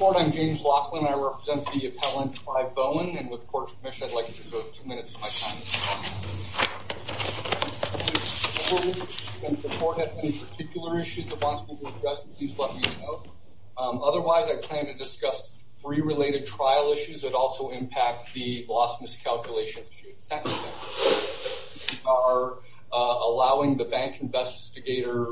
I'm James Laughlin, I represent the appellant Clive Bowen, and with the court's permission I'd like to reserve two minutes of my time. If the court has any particular issues it wants me to address, please let me know. Otherwise, I plan to discuss three related trial issues that also impact the loss miscalculation issue. Second, we are allowing the bank investigator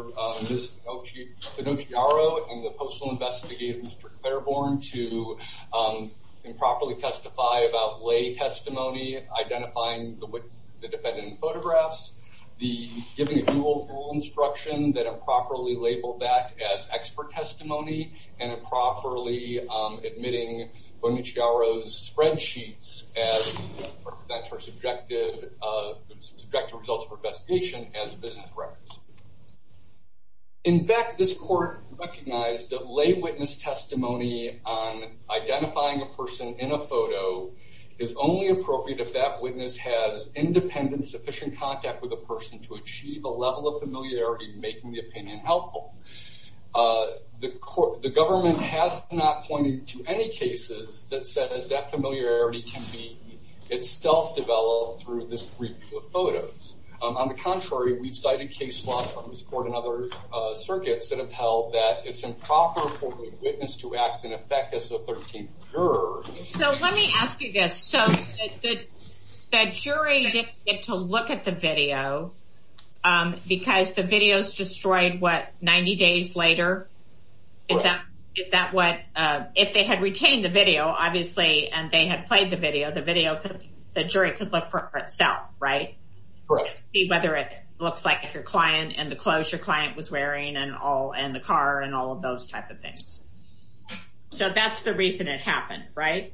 Ms. Bonucciaro and the postal investigator Mr. Claiborne to improperly testify about lay testimony, identifying the defendant in photographs, giving a dual rule instruction that improperly labeled that as expert testimony, and improperly admitting Bonucciaro's spreadsheets as subjective results for investigation as business records. In fact, this court recognized that lay witness testimony on identifying a person in a photo is only appropriate if that witness has independent sufficient contact with the person to achieve a level of familiarity making the opinion helpful. The government has not pointed to any cases that said that familiarity can be itself developed through this group of photos. On the contrary, we've cited case law from this court and other circuits that have held that it's improper for a witness to act in effect as a 13th juror. So let me ask you this, so the jury didn't get to look at the video because the video's destroyed what, 90 days later? Correct. Is that what, if they had retained the video, obviously, and they had played the video, the jury could look for it for itself, right? Correct. See whether it looks like it's your client, and the clothes your client was wearing, and the car, and all of those type of things. So that's the reason it happened, right?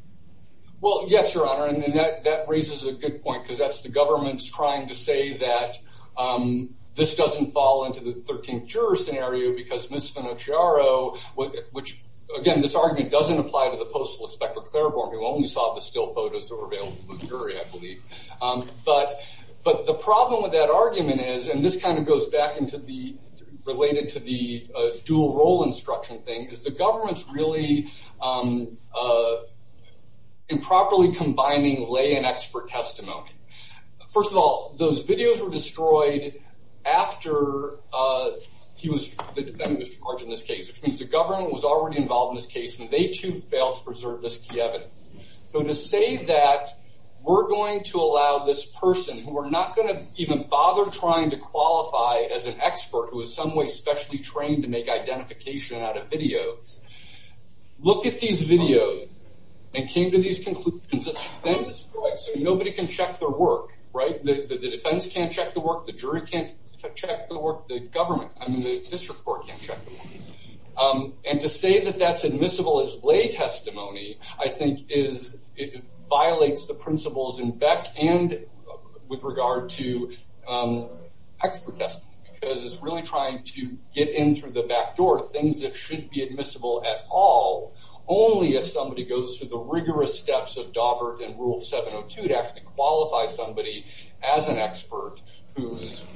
Well, yes, Your Honor, and that raises a good point, because that's the government's trying to say that this doesn't fall into the 13th juror scenario because Ms. Bonucciaro, which, again, this argument doesn't apply to the Postal Inspector Claiborne, who only saw the still photos that were available to the jury, I believe. But the problem with that argument is, and this kind of goes back into the, related to the dual role instruction thing, is the government's really improperly combining lay and expert testimony. First of all, those videos were destroyed after the defendant was charged in this case, which means the government was already involved in this case, and they, too, failed to preserve this key evidence. So to say that we're going to allow this person, who we're not going to even bother trying to qualify as an expert who is some way specially trained to make identification out of videos, look at these videos and came to these conclusions. It's been destroyed, so nobody can check their work, right? The defense can't check the work. The jury can't check the work. The government, I mean, the district court can't check the work. And to say that that's admissible as lay testimony, I think, violates the principles in Beck and with regard to expert testimony, because it's really trying to get in through the back door things that shouldn't be admissible at all, only if somebody goes through the rigorous steps of Dawbert and Rule 702 to actually qualify somebody as an expert whose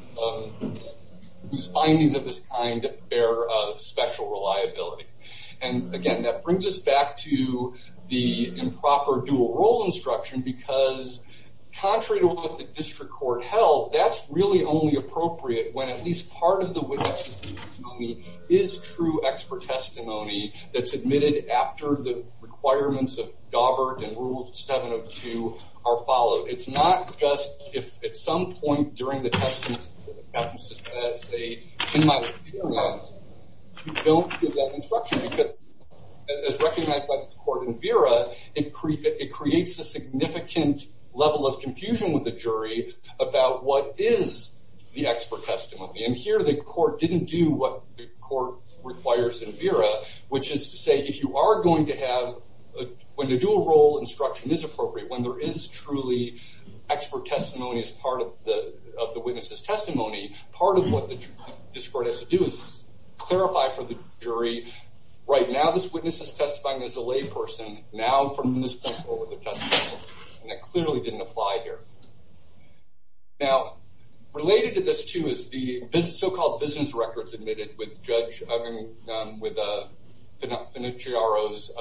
findings of this kind bear special reliability. And again, that brings us back to the improper dual role instruction, because contrary to what the district court held, that's really only appropriate when at least part of the witness is true expert testimony that's admitted after the requirements of Dawbert and Rule 702 are followed. So it's not just if at some point during the testimony that happens to say, in my experience, you don't give that instruction, because as recognized by this court in Vera, it creates a significant level of confusion with the jury about what is the expert testimony. And here, the court didn't do what the court requires in Vera, which is to say, if you are going to have, when the dual role instruction is appropriate, when there is truly expert testimony as part of the witness's testimony, part of what the district court has to do is clarify for the jury, right, now this witness is testifying as a layperson. Now, from this point forward, they're testifying. And that clearly didn't apply here. Now, related to this, too, is the so-called business records admitted with Judge Financiaro's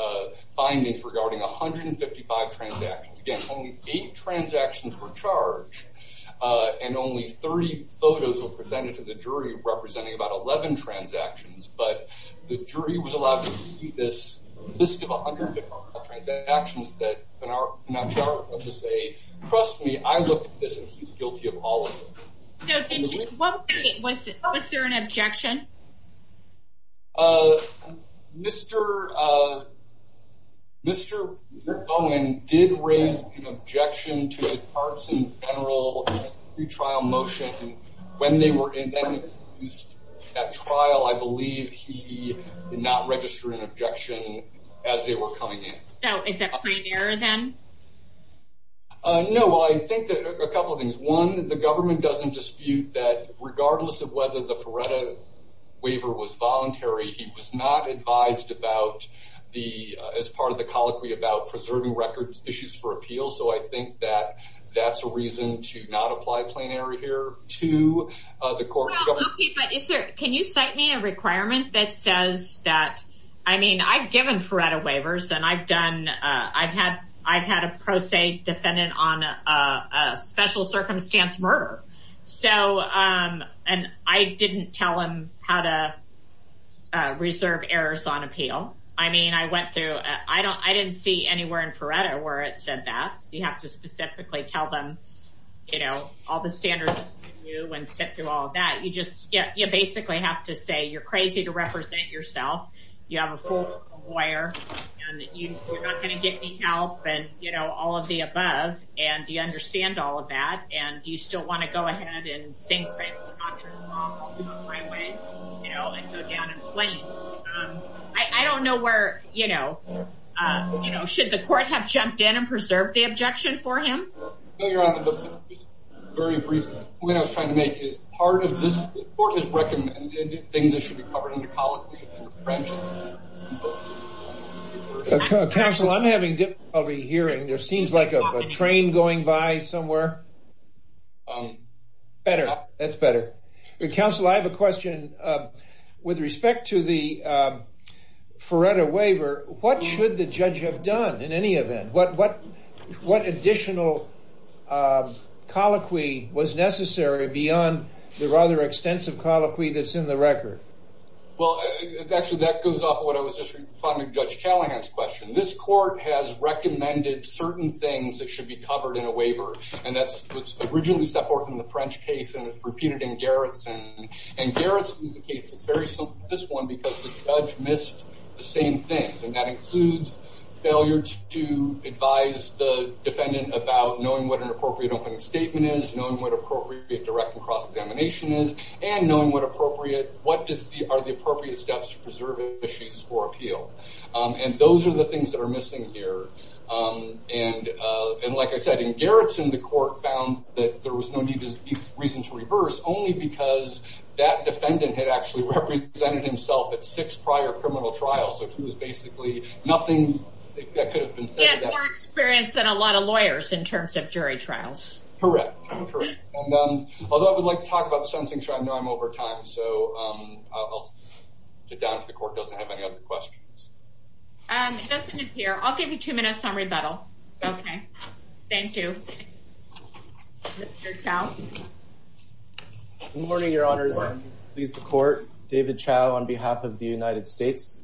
findings regarding 155 transactions. Again, only eight transactions were charged, and only 30 photos were presented to the jury representing about 11 transactions. But the jury was allowed to see this list of 155 transactions that Financiaro was able to say, trust me, I looked at this, and he's guilty of all of them. Was there an objection? Mr. Bowen did raise an objection to the parts and general retrial motion. When they were in that trial, I believe he did not register an objection as they were coming in. Is that a prime error, then? No, well, I think a couple of things. One, the government doesn't dispute that regardless of whether the Feretta waiver was voluntary, he was not advised as part of the colloquy about preserving records issues for appeal. So I think that that's a reason to not apply a plain error here to the court. Can you cite me a requirement that says that, I mean, I've given Feretta waivers, and I've had a pro se defendant on a special circumstance murder. And I didn't tell him how to reserve errors on appeal. I mean, I went through, I didn't see anywhere in Feretta where it said that. You have to specifically tell them, you know, all the standards and sit through all of that. You just basically have to say you're crazy to represent yourself. You have a full lawyer, and you're not going to get any help and, you know, all of the above. And do you understand all of that? And do you still want to go ahead and say, I don't know where, you know, should the court have jumped in and preserve the objection? Very briefly, what I was trying to make is part of this court has recommended things that should be covered in the colloquy. Council, I'm having difficulty hearing. There seems like a train going by somewhere. Better. That's better. Council, I have a question with respect to the Feretta waiver. What should the judge have done in any event? What additional colloquy was necessary beyond the rather extensive colloquy that's in the record? Well, actually, that goes off of what I was just responding to Judge Callahan's question. This court has recommended certain things that should be covered in a waiver, and that was originally set forth in the French case, and it's repeated in Garretson. And Garretson's case is very similar to this one because the judge missed the same things, and that includes failure to advise the defendant about knowing what an appropriate opening statement is, knowing what appropriate direct and cross-examination is, and knowing what appropriate, what are the appropriate steps to preserve issues for appeal. And those are the things that are missing here. And like I said, in Garretson, the court found that there was no reason to reverse, only because that defendant had actually represented himself at six prior criminal trials, so he was basically nothing that could have been said. He had more experience than a lot of lawyers in terms of jury trials. Correct. Although I would like to talk about the Sunsing trial, I know I'm over time, so I'll sit down if the court doesn't have any other questions. It doesn't appear. I'll give you two minutes on rebuttal. Okay. Thank you. Mr. Chau? Good morning, Your Honors, and please, the court. David Chau on behalf of the United States.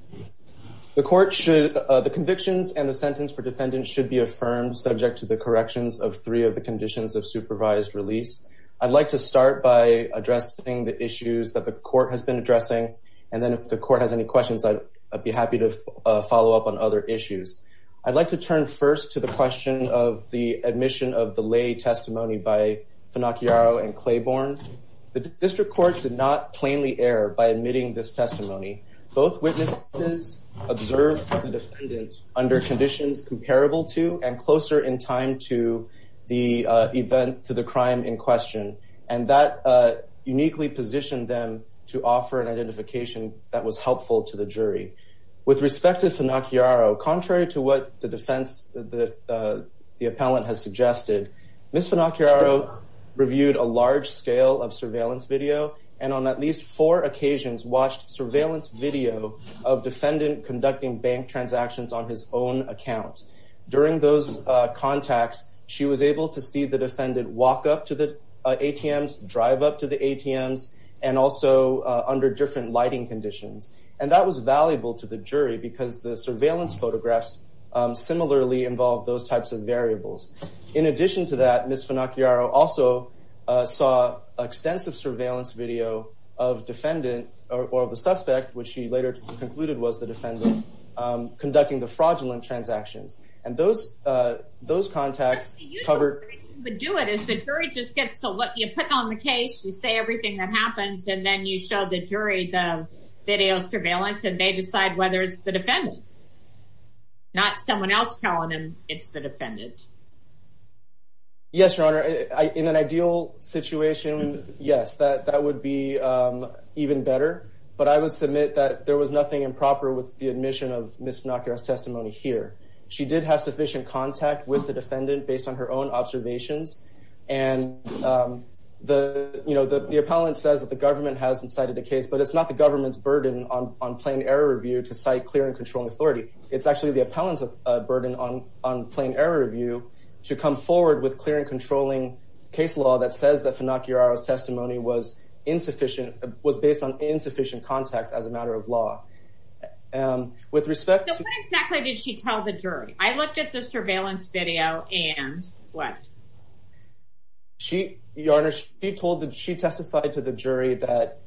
The convictions and the sentence for defendant should be affirmed subject to the corrections of three of the conditions of supervised release. I'd like to start by addressing the issues that the court has been addressing, and then if the court has any questions, I'd be happy to follow up on other issues. I'd like to turn first to the question of the admission of the lay testimony by Finacchiaro and Claiborne. The district courts did not plainly err by admitting this testimony. Both witnesses observed the defendant under conditions comparable to and closer in time to the crime in question, and that uniquely positioned them to offer an identification that was helpful to the jury. With respect to Finacchiaro, contrary to what the defense, the appellant has suggested, Ms. Finacchiaro reviewed a large scale of surveillance video and on at least four occasions watched surveillance video of defendant conducting bank transactions on his own account. During those contacts, she was able to see the defendant walk up to the ATMs, drive up to the ATMs, and also under different lighting conditions. And that was valuable to the jury because the surveillance photographs similarly involved those types of variables. In addition to that, Ms. Finacchiaro also saw extensive surveillance video of defendant or the suspect, which she later concluded was the defendant, conducting the fraudulent transactions. And those contacts covered... The usual way you would do it is the jury just gets to let you pick on the case, you say everything that happens, and then you show the jury the video surveillance and they decide whether it's the defendant, not someone else telling them it's the defendant. Yes, Your Honor. In an ideal situation, yes, that would be even better. But I would submit that there was nothing improper with the admission of Ms. Finacchiaro's testimony here. She did have sufficient contact with the defendant based on her own observations. And the appellant says that the government hasn't cited a case, but it's not the government's burden on plain error review to cite clear and controlling authority. It's actually the appellant's burden on plain error review to come forward with clear and controlling case law that says that Ms. Finacchiaro's testimony was based on insufficient contacts as a matter of law. So what exactly did she tell the jury? I looked at the surveillance video and what? Your Honor, she testified to the jury that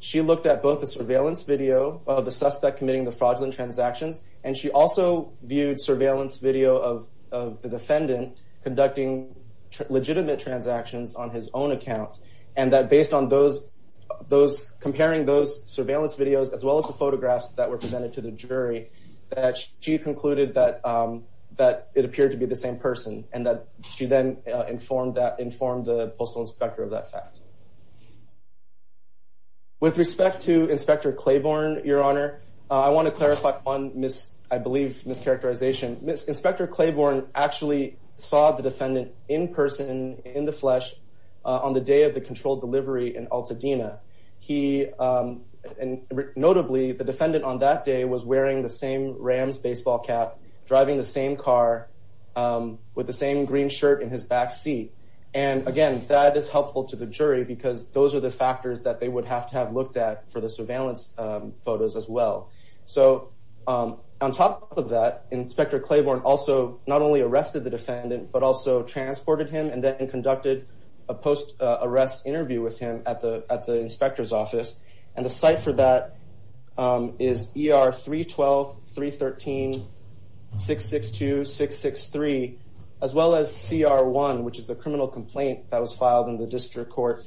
she looked at both the surveillance video of the suspect committing the fraudulent transactions, and she also viewed surveillance video of the defendant conducting legitimate transactions on his own account. And that based on comparing those surveillance videos, as well as the photographs that were presented to the jury, that she concluded that it appeared to be the same person and that she then informed the postal inspector of that fact. With respect to Inspector Claiborne, Your Honor, I want to clarify one mischaracterization. Inspector Claiborne actually saw the defendant in person, in the flesh, on the day of the controlled delivery in Altadena. Notably, the defendant on that day was wearing the same Rams baseball cap, driving the same car, with the same green shirt in his back seat. And again, that is helpful to the jury because those are the factors that they would have to have looked at for the surveillance photos as well. So, on top of that, Inspector Claiborne also not only arrested the defendant, but also transported him and then conducted a post-arrest interview with him at the inspector's office. And the site for that is ER 312, 313, 662, 663, as well as CR1, which is the criminal complaint that was filed in the district court.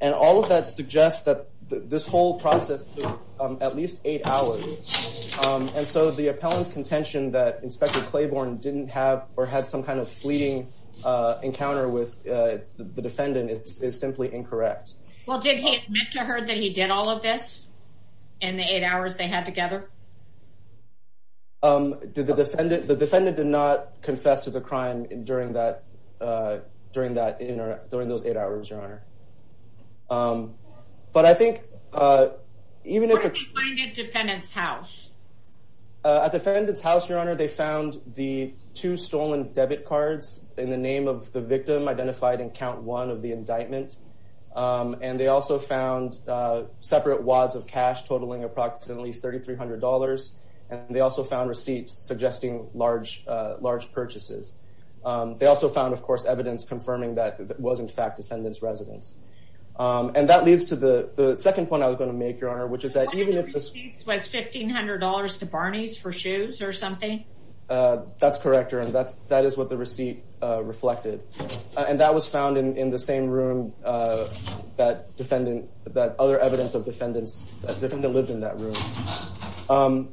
And all of that suggests that this whole process took at least eight hours. And so the appellant's contention that Inspector Claiborne didn't have or had some kind of fleeting encounter with the defendant is simply incorrect. Well, did he admit to her that he did all of this in the eight hours they had together? The defendant did not confess to the crime during those eight hours, Your Honor. Where did they find it at the defendant's house? At the defendant's house, Your Honor, they found the two stolen debit cards in the name of the victim identified in count one of the indictment. And they also found separate wads of cash totaling approximately $3,300. And they also found receipts suggesting large purchases. They also found, of course, evidence confirming that it was, in fact, the defendant's residence. And that leads to the second point I was going to make, Your Honor, which is that... One of the receipts was $1,500 to Barney's for shoes or something? That's correct, Your Honor. That is what the receipt reflected. And that was found in the same room that other evidence of defendants lived in that room.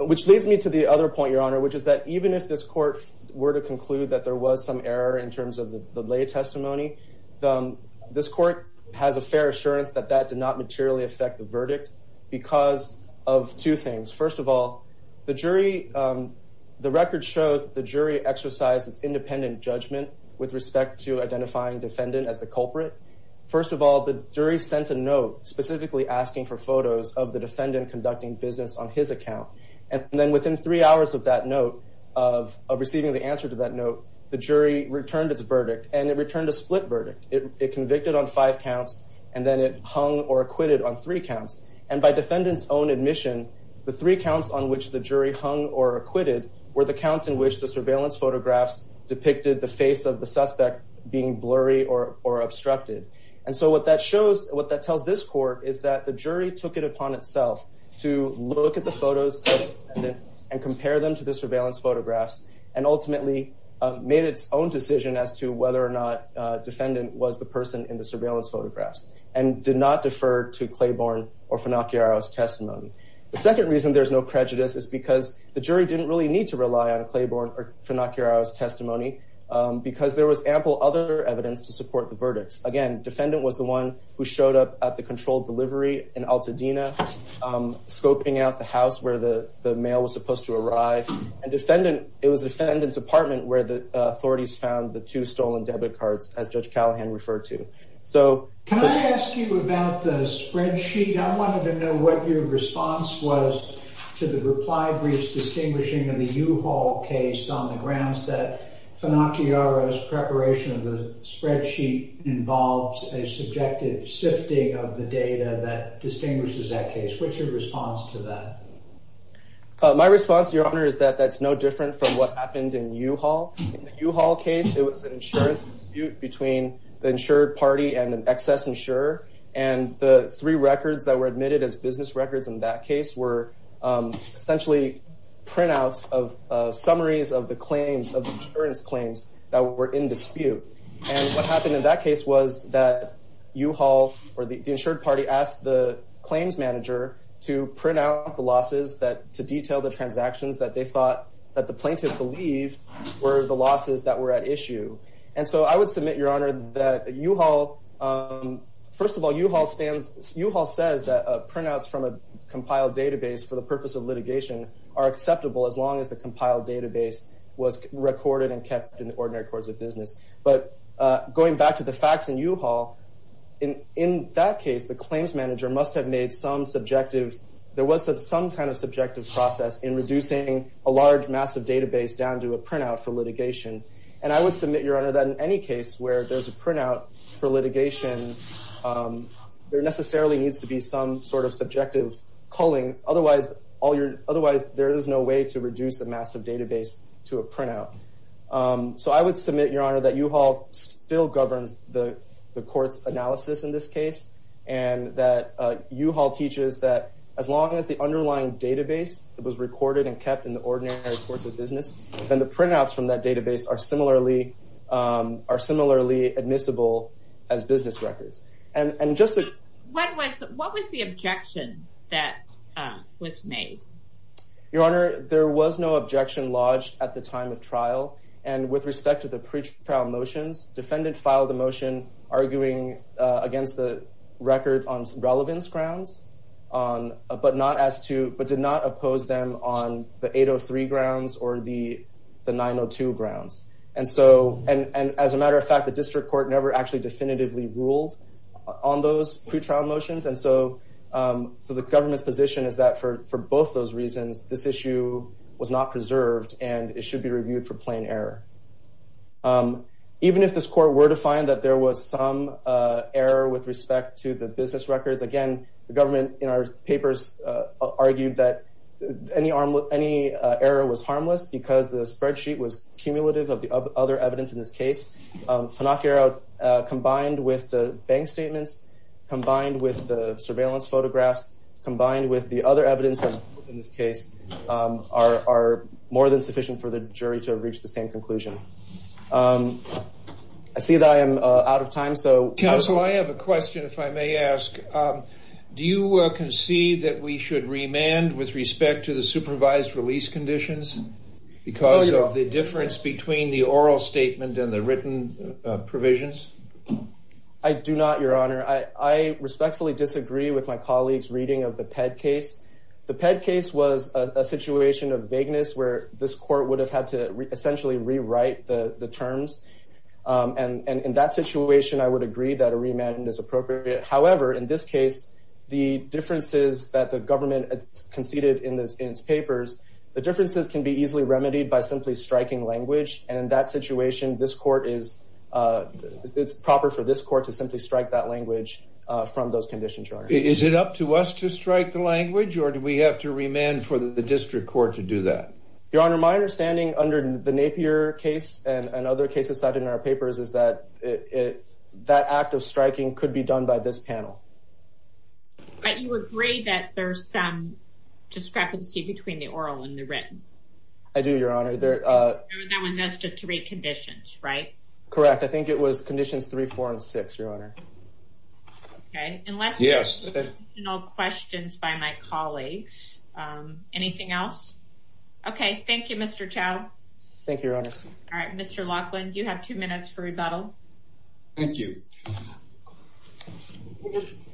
Which leads me to the other point, Your Honor, which is that even if this court were to conclude that there was some error in terms of the lay testimony, this court has a fair assurance that that did not materially affect the verdict because of two things. First of all, the record shows the jury exercised its independent judgment with respect to identifying defendant as the culprit. First of all, the jury sent a note specifically asking for photos of the defendant conducting business on his account. And then within three hours of receiving the answer to that note, the jury returned its verdict, and it returned a split verdict. It convicted on five counts, and then it hung or acquitted on three counts. And by defendant's own admission, the three counts on which the jury hung or acquitted were the counts in which the surveillance photographs depicted the face of the suspect being blurry or obstructed. And so what that tells this court is that the jury took it upon itself to look at the photos of the defendant and compare them to the surveillance photographs and ultimately made its own decision as to whether or not to defer to Claiborne or Finacchiaro's testimony. The second reason there's no prejudice is because the jury didn't really need to rely on Claiborne or Finacchiaro's testimony because there was ample other evidence to support the verdicts. Again, defendant was the one who showed up at the controlled delivery in Altadena, scoping out the house where the mail was supposed to arrive. And it was the defendant's apartment where the authorities found the two stolen debit cards, as Judge Callahan referred to. Can I ask you about the spreadsheet? I wanted to know what your response was to the reply brief's distinguishing of the U-Haul case on the grounds that Finacchiaro's preparation of the spreadsheet involved a subjective sifting of the data that distinguishes that case. What's your response to that? My response, Your Honor, is that that's no different from what happened in U-Haul. In the U-Haul case, it was an insurance dispute between the insured party and an excess insurer. And the three records that were admitted as business records in that case were essentially printouts of summaries of the insurance claims that were in dispute. And what happened in that case was that U-Haul, or the insured party, asked the claims manager to print out the losses to detail the transactions that they thought that the plaintiff believed were the losses that were at issue. And so I would submit, Your Honor, that U-Haul... First of all, U-Haul says that printouts from a compiled database for the purpose of litigation are acceptable as long as the compiled database was recorded and kept in the ordinary course of business. But going back to the facts in U-Haul, in that case, the claims manager must have made some subjective... some subjective process in reducing a large, massive database down to a printout for litigation. And I would submit, Your Honor, that in any case where there's a printout for litigation, there necessarily needs to be some sort of subjective culling. Otherwise, there is no way to reduce a massive database to a printout. So I would submit, Your Honor, that U-Haul still governs the court's analysis in this case and that U-Haul teaches that as long as the underlying database was recorded and kept in the ordinary course of business, then the printouts from that database are similarly admissible as business records. And just to... What was the objection that was made? Your Honor, there was no objection lodged at the time of trial. And with respect to the pretrial motions, defendant filed a motion arguing against the record on some relevance grounds but not as to... but did not oppose them on the 803 grounds or the 902 grounds. And so... And as a matter of fact, the district court never actually definitively ruled on those pretrial motions. And so the government's position is that for both those reasons, this issue was not preserved and it should be reviewed for plain error. Even if this court were to find that there was some error with respect to the business records, again, the government in our papers argued that any error was harmless because the spreadsheet was cumulative of the other evidence in this case. Pinocchio, combined with the bank statements, combined with the surveillance photographs, combined with the other evidence in this case, are more than sufficient for the jury to reach the same conclusion. I see that I am out of time, so... Counsel, I have a question if I may ask. Do you concede that we should remand with respect to the supervised release conditions? Because of the difference between the oral statement and the written provisions? I do not, Your Honor. I respectfully disagree with my colleague's reading of the PED case. The PED case was a situation of vagueness where this court would have had to essentially rewrite the terms. And in that situation, I would agree that a remand is appropriate. However, in this case, the differences that the government conceded in its papers, the differences can be easily remedied by simply striking language. And in that situation, it's proper for this court to simply strike that language from those conditions, Your Honor. Is it up to us to strike the language, or do we have to remand for the district court to do that? Your Honor, my understanding under the Napier case and other cases cited in our papers is that that act of striking could be done by this panel. But you agree that there's some discrepancy between the oral and the written? I do, Your Honor. That was as to three conditions, right? Correct. I think it was conditions three, four, and six, Your Honor. Okay. Unless... Yes. Any additional questions by my colleagues? Anything else? Okay. Thank you, Mr. Chau. Thank you, Your Honor. All right. Mr. Laughlin, you have two minutes for rebuttal. Thank you.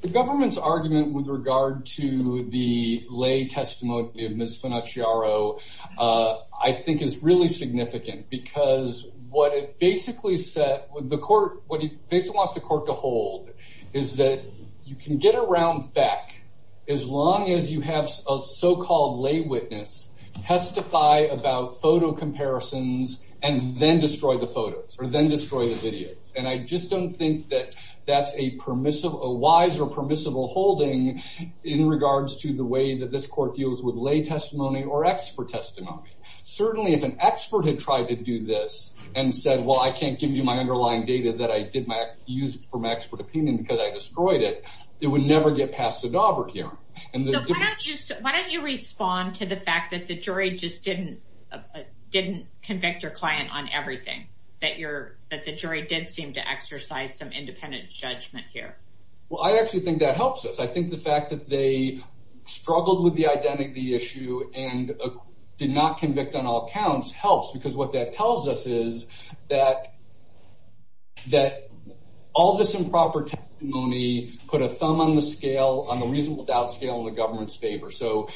The government's argument with regard to the lay testimony of Ms. Funuciaro I think is really significant because what it basically said... What it basically wants the court to hold is that you can get around back as long as you have a so-called lay witness testify about photo comparisons and then destroy the photos or then destroy the videos. And I just don't think that that's a wise or permissible holding in regards to the way that this court deals with lay testimony or expert testimony. Certainly, if an expert had tried to do this and said, well, I can't give you my underlying data that I used for my expert opinion because I destroyed it, it would never get past a Daubert hearing. Why don't you respond to the fact that the jury just didn't convict your client on everything, that the jury did seem to exercise some independent judgment here? Well, I actually think that helps us. I think the fact that they struggled with the identity issue and did not convict on all counts helps because what that tells us is that all this improper testimony put a thumb on the scale, on the reasonable doubt scale, in the government's favor. So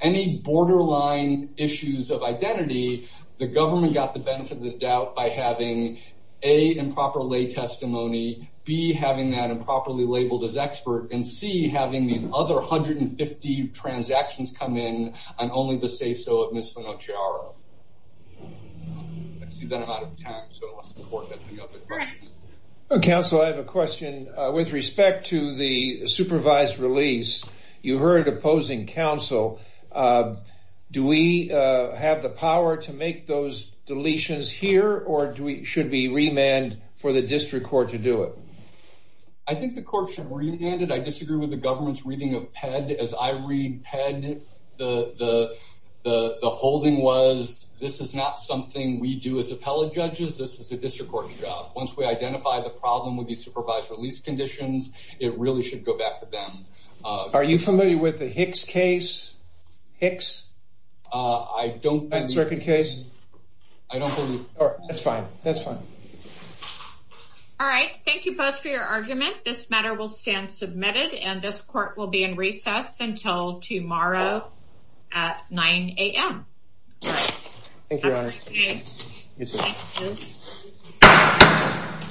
any borderline issues of identity, the government got the benefit of the doubt by having, A, improper lay testimony, B, having that improperly labeled as expert, and C, having these other 150 transactions come in on only the say-so of Ms. Linociaro. I see that I'm out of time, so I'll support that for the other questions. Counsel, I have a question. With respect to the supervised release, you heard opposing counsel. Do we have the power to make those deletions here, or should we remand for the district court to do it? I think the court should remand it. I disagree with the government's reading of PED. As I read PED, the holding was, this is not something we do as appellate judges. This is the district court's job. Once we identify the problem with these supervised release conditions, it really should go back to them. Are you familiar with the Hicks case? Hicks? I don't believe. That circuit case? I don't believe. That's fine. That's fine. All right. Thank you both for your argument. This matter will stand submitted, and this court will be in recess until tomorrow at 9 a.m. Thank you, Your Honor. Thank you.